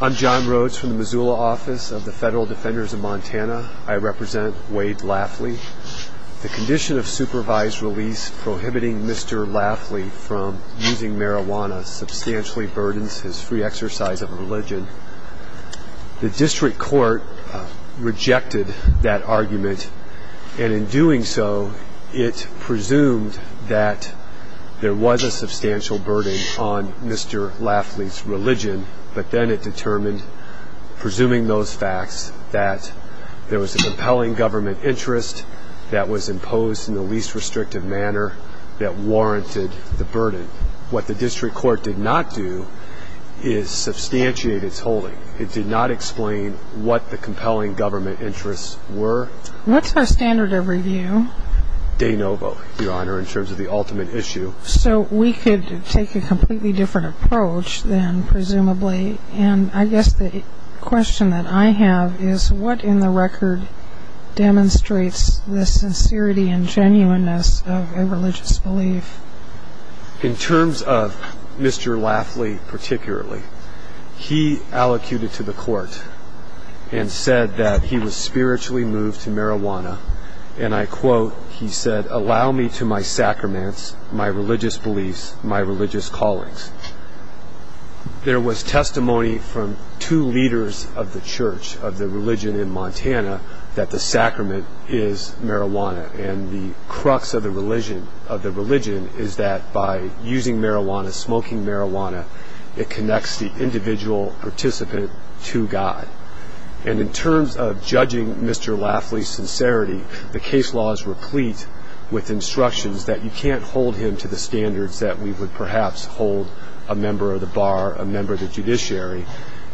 I'm John Rhodes from the Missoula office of the Federal Defenders of Montana. I represent Wade Lafley. The condition of supervised release prohibiting Mr. Lafley from using marijuana substantially burdens his free exercise of religion. The district court rejected that argument, and in doing so, it presumed that there was a substantial burden on Mr. Lafley's religion, but then it determined, presuming those facts, that there was a compelling government interest that was imposed in the least restrictive manner that warranted the burden. What the district court did not do is substantiate its holding. It did not explain what the compelling government interests were. What's our standard of review? De novo, Your Honor, in terms of the ultimate issue. So we could take a completely different approach then, presumably, and I guess the question that I have is what in the record demonstrates the sincerity and genuineness of a religious belief? In terms of Mr. Lafley particularly, he allocated to the court and said that he was spiritually moved to marijuana, and I quote, he said, allow me to my sacraments, my religious beliefs, my religious callings. There was testimony from two leaders of the church of the religion in Montana that the sacrament is marijuana, and the crux of the religion is that by using marijuana, smoking marijuana, it connects the individual participant to God. And in terms of judging Mr. Lafley's sincerity, the case law is replete with instructions that you can't hold him to the standards that we would perhaps hold a member of the bar, a member of the judiciary,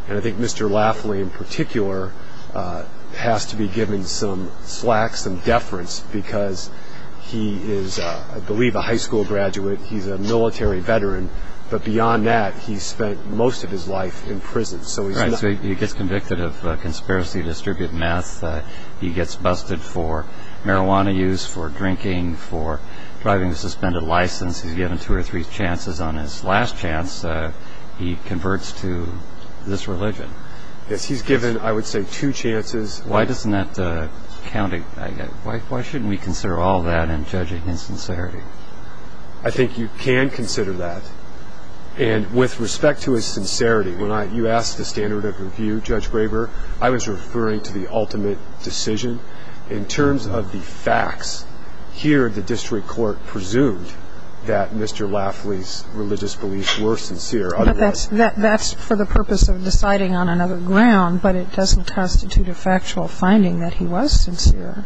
and I think Mr. Lafley in particular has to be given some slack, some deference, because he is, I believe, a high school graduate, he's a military veteran, but beyond that, he spent most of his life in prison. Right, so he gets convicted of conspiracy to distribute meth, he gets busted for marijuana use, for drinking, for driving with a suspended license, he's given two or three chances. On his last chance, he converts to this religion. Yes, he's given, I would say, two chances. Why doesn't that count? Why shouldn't we consider all that in judging his sincerity? I think you can consider that. And with respect to his sincerity, when you asked the standard of review, Judge Graber, I was referring to the ultimate decision. In terms of the facts, here the district court presumed that Mr. Lafley's religious beliefs were sincere. But that's for the purpose of deciding on another ground, but it doesn't constitute a factual finding that he was sincere.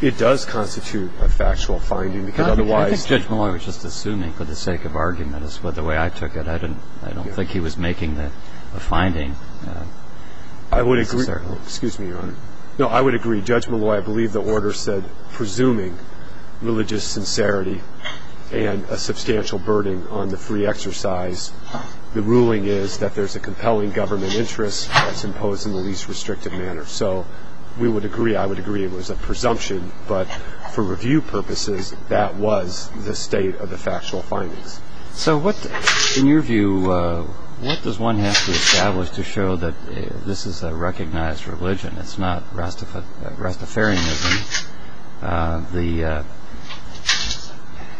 It does constitute a factual finding, because otherwise... I think Judge Malloy was just assuming for the sake of argument, as the way I took it. I don't think he was making a finding. I would agree. Excuse me, Your Honor. No, I would agree. Judge Malloy, I believe the order said, presuming religious sincerity and a substantial burden on the free exercise, the ruling is that there's a compelling government interest that's imposed in the least restrictive manner. So we would agree, I would agree, it was a presumption. But for review purposes, that was the state of the factual findings. So what, in your view, what does one have to establish to show that this is a recognized religion? It's not Rastafarianism.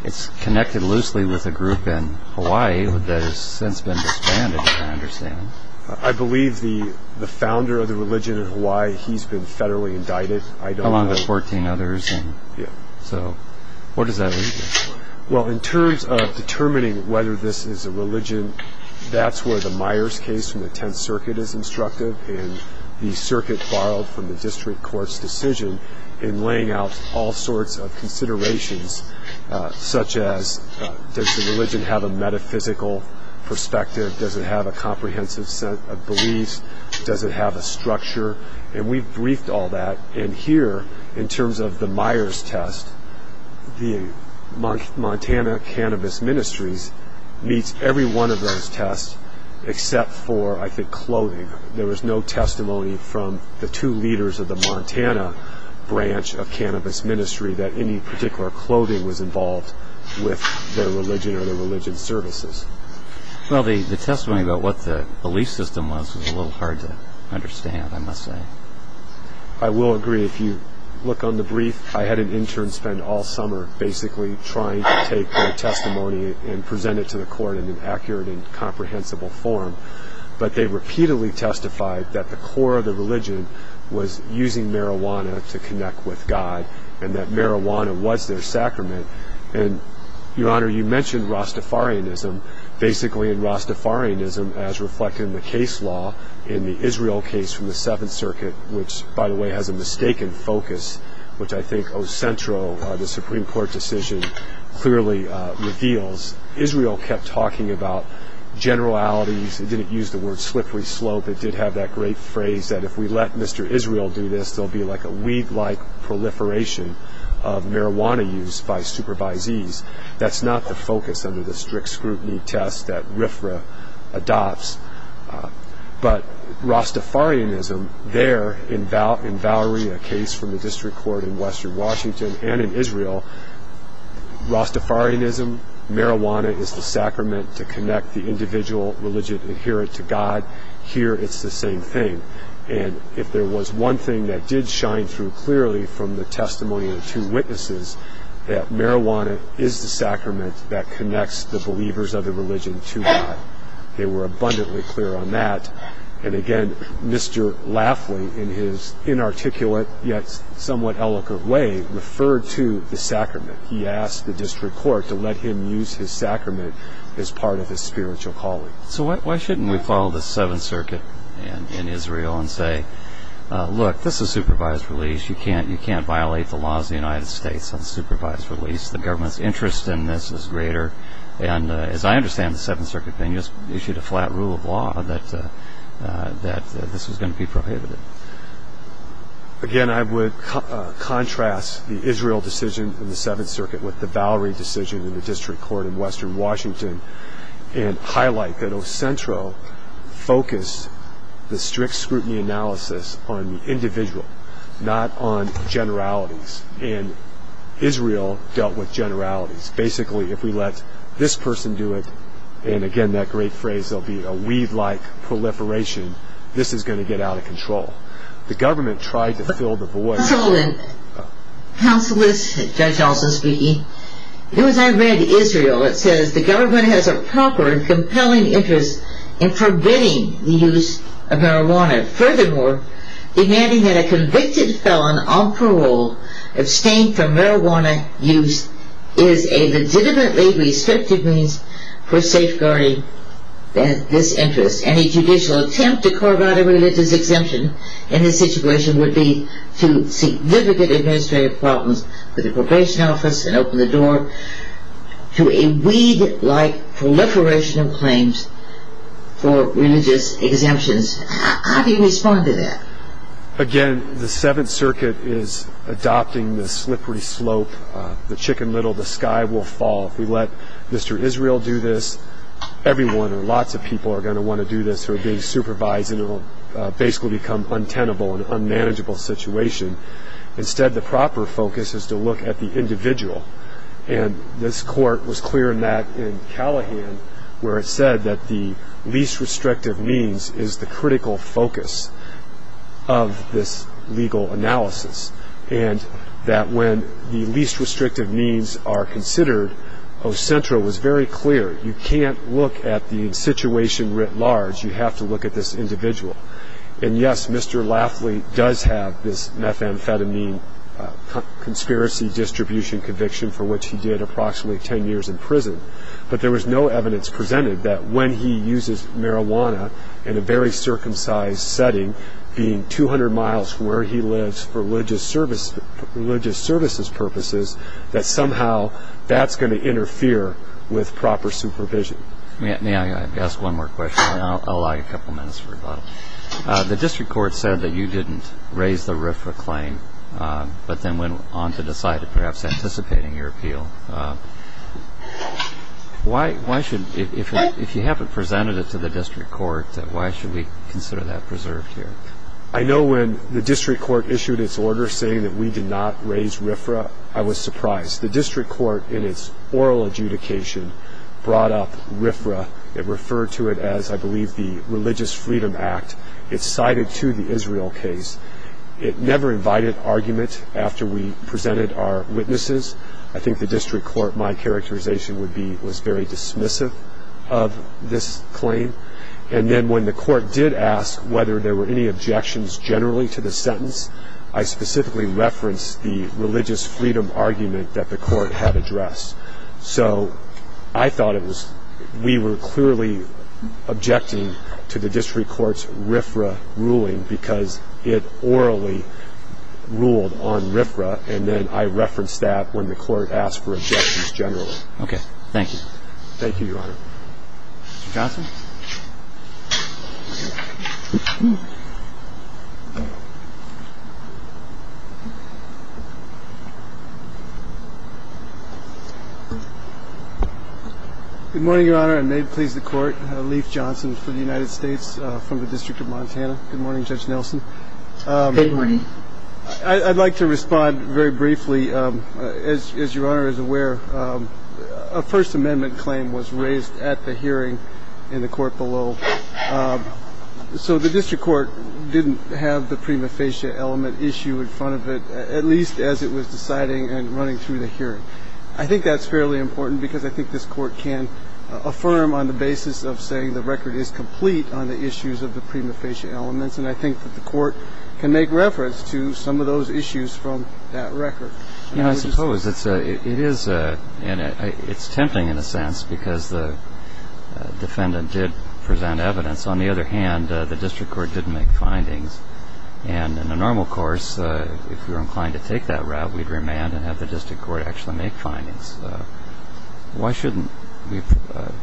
It's connected loosely with a group in Hawaii that has since been disbanded, I understand. I believe the founder of the religion in Hawaii, he's been federally indicted. Along with 14 others. Yeah. So what does that leave you? Well, in terms of determining whether this is a religion, that's where the Myers case from the Tenth Circuit is instructive, and the circuit borrowed from the district court's decision in laying out all sorts of considerations, such as, does the religion have a metaphysical perspective? Does it have a comprehensive set of beliefs? Does it have a structure? And we've briefed all that. And here, in terms of the Myers test, the Montana Cannabis Ministries meets every one of those tests, except for, I think, clothing. There was no testimony from the two leaders of the Montana branch of Cannabis Ministry that any particular clothing was involved with their religion or their religion services. Well, the testimony about what the belief system was was a little hard to understand, I must say. I will agree. If you look on the brief, I had an intern spend all summer basically trying to take their testimony and present it to the court in an accurate and comprehensible form. But they repeatedly testified that the core of the religion was using marijuana to connect with God, and that marijuana was their sacrament. And, Your Honor, you mentioned Rastafarianism. Basically, in Rastafarianism, as reflected in the case law in the Israel case from the Seventh Circuit, which, by the way, has a mistaken focus, which I think O. Centro, the Supreme Court decision, clearly reveals, Israel kept talking about generalities. It didn't use the word slippery slope. It did have that great phrase that if we let Mr. Israel do this, there will be like a weed-like proliferation of marijuana use by supervisees. That's not the focus under the strict scrutiny test that RFRA adopts. But Rastafarianism there, in Valerie, a case from the district court in western Washington, and in Israel, Rastafarianism, marijuana is the sacrament to connect the individual religion adherent to God. Here, it's the same thing. And if there was one thing that did shine through clearly from the testimony of two witnesses, that marijuana is the sacrament that connects the believers of the religion to God. They were abundantly clear on that. And, again, Mr. Lafley, in his inarticulate, yet somewhat eloquent way, referred to the sacrament. He asked the district court to let him use his sacrament as part of his spiritual calling. So why shouldn't we follow the Seventh Circuit in Israel and say, look, this is supervised release. You can't violate the laws of the United States on supervised release. The government's interest in this is greater. And, as I understand, the Seventh Circuit then issued a flat rule of law that this was going to be prohibited. Again, I would contrast the Israel decision in the Seventh Circuit with the Valerie decision in the district court in western Washington and highlight that Ocentro focused the strict scrutiny analysis on the individual, not on generalities. And Israel dealt with generalities. Basically, if we let this person do it, and, again, that great phrase will be a weed-like proliferation, this is going to get out of control. The government tried to fill the void. Counseless, Judge Alston speaking. As I read Israel, it says the government has a proper and compelling interest in forbidding the use of marijuana. Furthermore, demanding that a convicted felon on parole abstain from marijuana use is a legitimately restrictive means for safeguarding this interest. And a judicial attempt to corroborate a religious exemption in this situation would be to seek vivid administrative problems with the probation office and open the door to a weed-like proliferation of claims for religious exemptions. How do you respond to that? Again, the Seventh Circuit is adopting the slippery slope, the chicken little, the sky will fall. If we let Mr. Israel do this, everyone or lots of people are going to want to do this, who are being supervised, and it will basically become untenable, an unmanageable situation. Instead, the proper focus is to look at the individual. And this court was clear in that in Callahan, where it said that the least restrictive means is the critical focus of this legal analysis, and that when the least restrictive means are considered, Ocentra was very clear, you can't look at the situation writ large, you have to look at this individual. And yes, Mr. Lafley does have this methamphetamine conspiracy distribution conviction for which he did approximately ten years in prison, but there was no evidence presented that when he uses marijuana in a very circumcised setting, being 200 miles where he lives for religious services purposes, that somehow that's going to interfere with proper supervision. May I ask one more question? I'll allow you a couple minutes for rebuttal. The district court said that you didn't raise the RFRA claim, but then went on to decide, perhaps anticipating your appeal. If you haven't presented it to the district court, why should we consider that preserved here? I know when the district court issued its order saying that we did not raise RFRA, I was surprised. The district court, in its oral adjudication, brought up RFRA. It referred to it as, I believe, the Religious Freedom Act. It's cited to the Israel case. It never invited argument after we presented our witnesses. I think the district court, my characterization would be, was very dismissive of this claim. And then when the court did ask whether there were any objections generally to the sentence, I specifically referenced the religious freedom argument that the court had addressed. So I thought we were clearly objecting to the district court's RFRA ruling because it orally ruled on RFRA, and then I referenced that when the court asked for objections generally. Okay. Thank you. Thank you, Your Honor. Mr. Johnson? Good morning, Your Honor, and may it please the Court, Leif Johnson from the United States, from the District of Montana. Good morning, Judge Nelson. Good morning. I'd like to respond very briefly. As Your Honor is aware, a First Amendment claim was raised at the hearing in the court below. So the district court didn't have the prima facie element issue in front of it, at least as it was deciding and running through the hearing. I think that's fairly important because I think this court can affirm on the basis of saying the record is complete on the issues of the prima facie elements, and I think that the court can make reference to some of those issues from that record. I suppose it is tempting in a sense because the defendant did present evidence. On the other hand, the district court didn't make findings. And in a normal course, if we were inclined to take that route, we'd remand and have the district court actually make findings. Why shouldn't we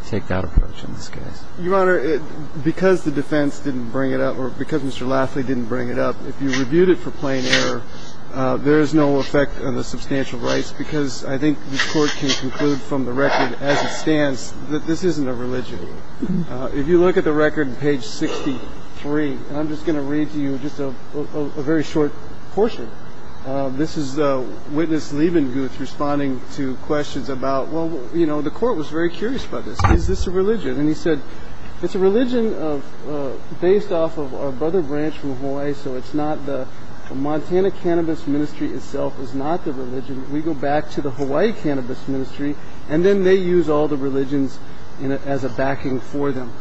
take that approach in this case? Your Honor, because the defense didn't bring it up or because Mr. Lafley didn't bring it up, if you reviewed it for plain error, there is no effect on the substantial rights because I think this court can conclude from the record as it stands that this isn't a religion. If you look at the record on page 63, I'm just going to read to you just a very short portion. This is Witness Leibenguth responding to questions about, well, you know, the court was very curious about this. Is this a religion? And he said, it's a religion based off of our brother branch from Hawaii, so it's not the Montana Cannabis Ministry itself is not the religion. We go back to the Hawaii Cannabis Ministry, and then they use all the religions as a backing for them.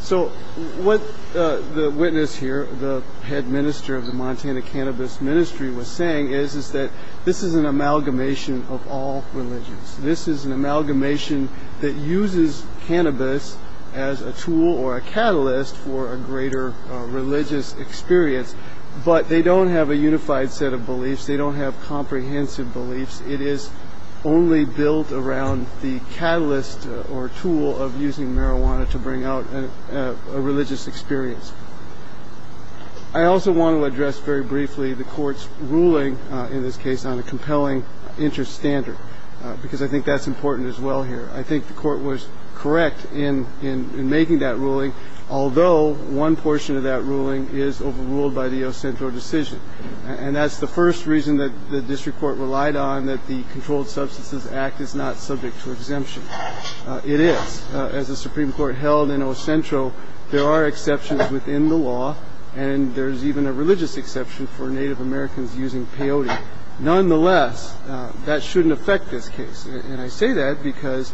So what the witness here, the head minister of the Montana Cannabis Ministry, was saying is that this is an amalgamation of all religions. This is an amalgamation that uses cannabis as a tool or a catalyst for a greater religious experience, but they don't have a unified set of beliefs. They don't have comprehensive beliefs. It is only built around the catalyst or tool of using marijuana to bring out a religious experience. I also want to address very briefly the court's ruling in this case on a compelling interest standard because I think that's important as well here. I think the court was correct in making that ruling, although one portion of that ruling is overruled by the Ocentro decision, and that's the first reason that the district court relied on that the Controlled Substances Act is not subject to exemption. It is. As the Supreme Court held in Ocentro, there are exceptions within the law, and there's even a religious exception for Native Americans using peyote. Nonetheless, that shouldn't affect this case, and I say that because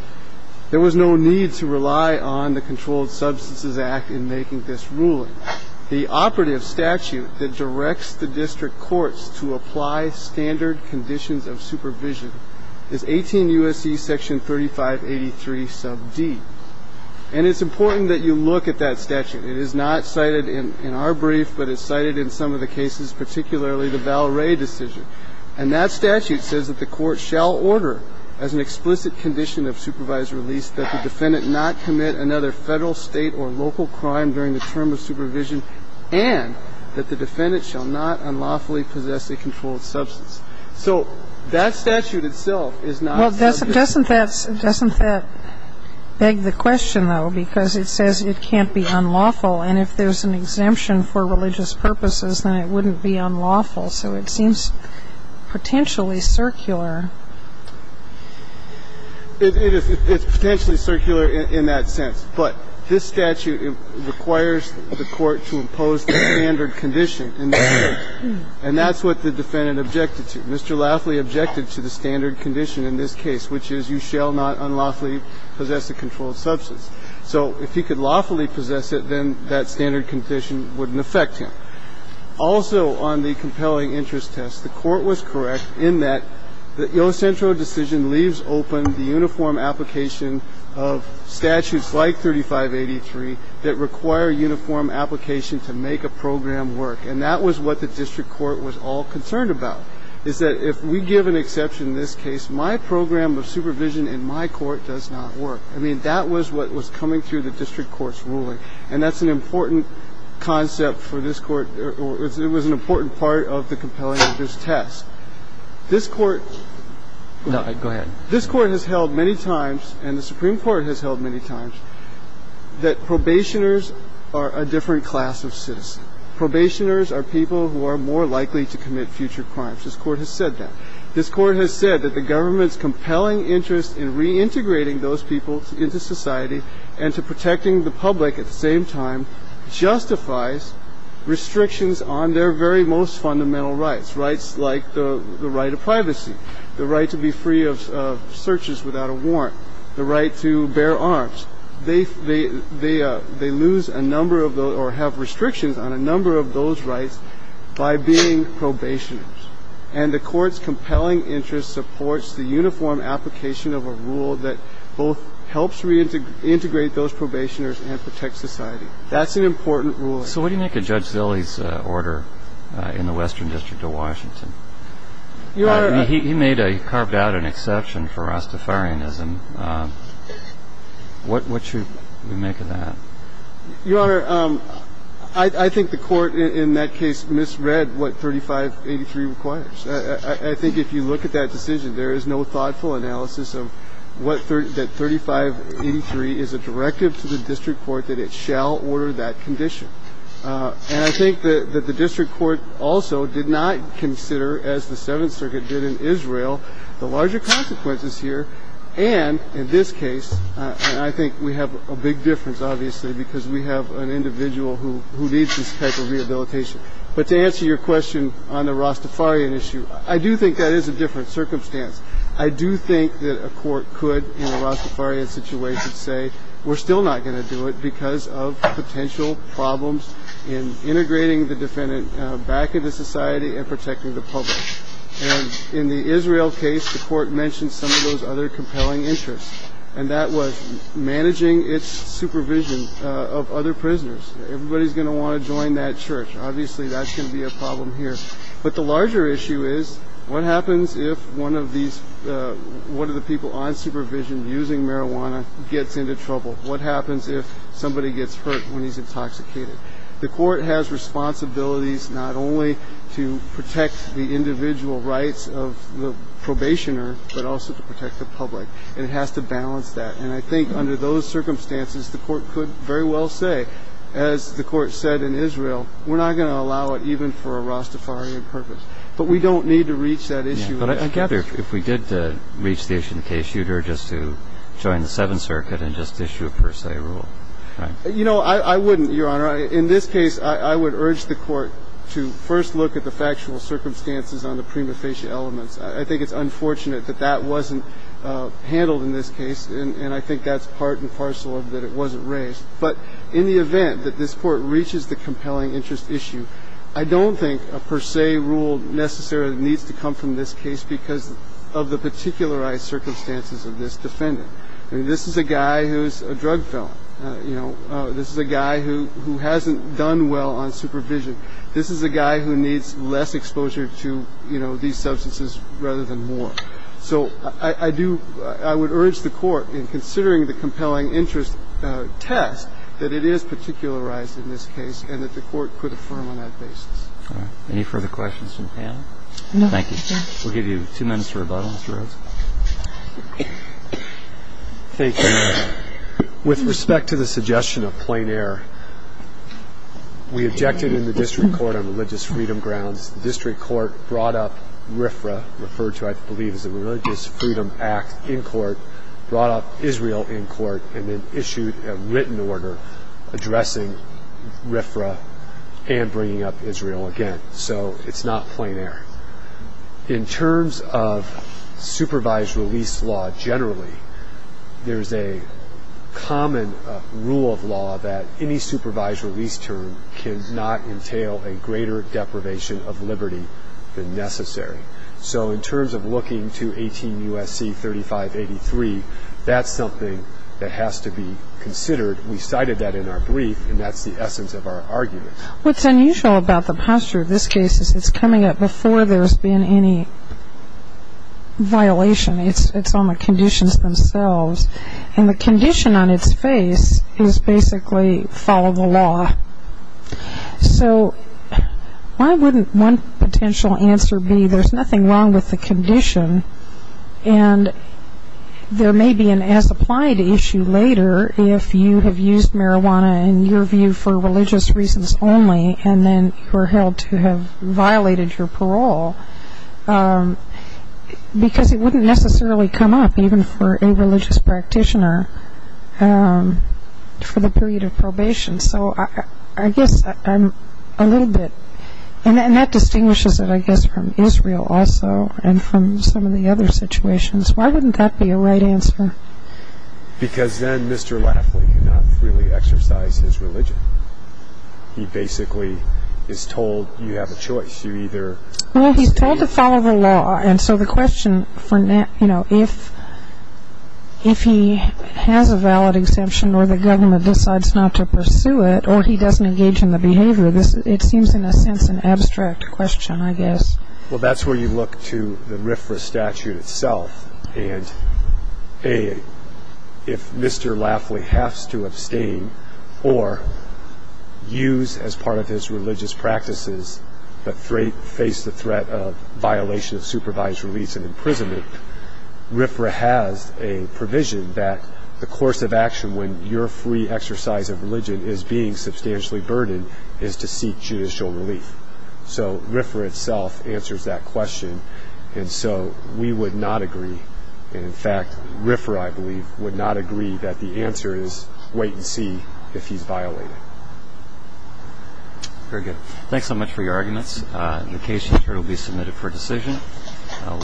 there was no need to rely on the Controlled Substances Act in making this ruling. The operative statute that directs the district courts to apply standard conditions of supervision is 18 U.S.C. section 3583 sub D, and it's important that you look at that statute. It is not cited in our brief, but it's cited in some of the cases, particularly the Valray decision. And that statute says that the court shall order as an explicit condition of supervised release that the defendant not commit another Federal, State, or local crime during the term of supervision and that the defendant shall not unlawfully possess a controlled substance. And doesn't that beg the question, though, because it says it can't be unlawful, and if there's an exemption for religious purposes, then it wouldn't be unlawful. So it seems potentially circular. It's potentially circular in that sense. But this statute requires the court to impose the standard condition, and that's what the defendant objected to. Mr. Laughley objected to the standard condition in this case, which is you shall not unlawfully possess a controlled substance. So if he could lawfully possess it, then that standard condition wouldn't affect him. Also on the compelling interest test, the Court was correct in that the Yosentro decision leaves open the uniform application of statutes like 3583 that require uniform application to make a program work. And that was what the district court was all concerned about. Is that if we give an exception in this case, my program of supervision in my court does not work. I mean, that was what was coming through the district court's ruling. And that's an important concept for this Court. It was an important part of the compelling interest test. This Court has held many times, and the Supreme Court has held many times, that probationers are a different class of citizen. Probationers are people who are more likely to commit future crimes. This Court has said that. This Court has said that the government's compelling interest in reintegrating those people into society and to protecting the public at the same time justifies restrictions on their very most fundamental rights, rights like the right of privacy, the right to be free of searches without a warrant, the right to bear arms. They lose a number of those or have restrictions on a number of those rights by being probationers. And the Court's compelling interest supports the uniform application of a rule that both helps reintegrate those probationers and protect society. That's an important ruling. So what do you make of Judge Zilley's order in the Western District of Washington? He made a – carved out an exception for Rastafarianism. What should we make of that? Your Honor, I think the Court in that case misread what 3583 requires. I think if you look at that decision, there is no thoughtful analysis of what – that 3583 is a directive to the district court that it shall order that condition. And I think that the district court also did not consider, as the Seventh Circuit did in Israel, the larger consequences here. And in this case, I think we have a big difference, obviously, because we have an individual who needs this type of rehabilitation. But to answer your question on the Rastafarian issue, I do think that is a different circumstance. I do think that a court could, in a Rastafarian situation, say we're still not going to do it because of potential problems in integrating the defendant back into society and protecting the public. And in the Israel case, the court mentioned some of those other compelling interests, and that was managing its supervision of other prisoners. Everybody's going to want to join that church. Obviously, that's going to be a problem here. But the larger issue is what happens if one of these – one of the people on supervision using marijuana gets into trouble? What happens if somebody gets hurt when he's intoxicated? The court has responsibilities not only to protect the individual rights of the probationer but also to protect the public, and it has to balance that. And I think under those circumstances, the court could very well say, as the court said in Israel, we're not going to allow it even for a Rastafarian purpose. But we don't need to reach that issue. But I gather if we did reach the issue in the case, you'd urge us to join the Seventh Circuit and just issue a per se rule, right? You know, I wouldn't, Your Honor. In this case, I would urge the court to first look at the factual circumstances on the prima facie elements. I think it's unfortunate that that wasn't handled in this case, and I think that's part and parcel of that it wasn't raised. But in the event that this Court reaches the compelling interest issue, I don't think a per se rule necessarily needs to come from this case because of the particularized circumstances of this defendant. I mean, this is a guy who's a drug felon. You know, this is a guy who hasn't done well on supervision. This is a guy who needs less exposure to, you know, these substances rather than more. So I do – I would urge the court in considering the compelling interest test that it is particularized in this case and that the court could affirm on that basis. All right. Any further questions from the panel? No. Thank you. We'll give you two minutes for rebuttal, Mr. Rhodes. Thank you. With respect to the suggestion of plain air, we objected in the district court on religious freedom grounds. The district court brought up RFRA, referred to I believe as the Religious Freedom Act in court, brought up Israel in court, and then issued a written order addressing RFRA and bringing up Israel again. So it's not plain air. In terms of supervised release law generally, there's a common rule of law that any supervised release term cannot entail a greater deprivation of liberty than necessary. So in terms of looking to 18 U.S.C. 3583, that's something that has to be considered. We cited that in our brief, and that's the essence of our argument. What's unusual about the posture of this case is it's coming up before there's been any violation. It's on the conditions themselves. And the condition on its face is basically follow the law. So why wouldn't one potential answer be there's nothing wrong with the condition and there may be an as-applied issue later if you have used marijuana in your view for religious reasons only and then were held to have violated your parole? Because it wouldn't necessarily come up even for a religious practitioner for the period of probation. So I guess I'm a little bit, and that distinguishes it I guess from Israel also and from some of the other situations. Why wouldn't that be a right answer? Because then Mr. Lafley could not freely exercise his religion. He basically is told you have a choice. Well, he's told to follow the law. And so the question, you know, if he has a valid exemption or the government decides not to pursue it or he doesn't engage in the behavior, it seems in a sense an abstract question I guess. Well, that's where you look to the RFRA statute itself. And if Mr. Lafley has to abstain or use as part of his religious practices but face the threat of violation of supervised release and imprisonment, RFRA has a provision that the course of action when your free exercise of religion is being substantially burdened is to seek judicial relief. So RFRA itself answers that question. And so we would not agree. And, in fact, RFRA I believe would not agree that the answer is wait and see if he's violated. Very good. Thanks so much for your arguments. The case here will be submitted for decision.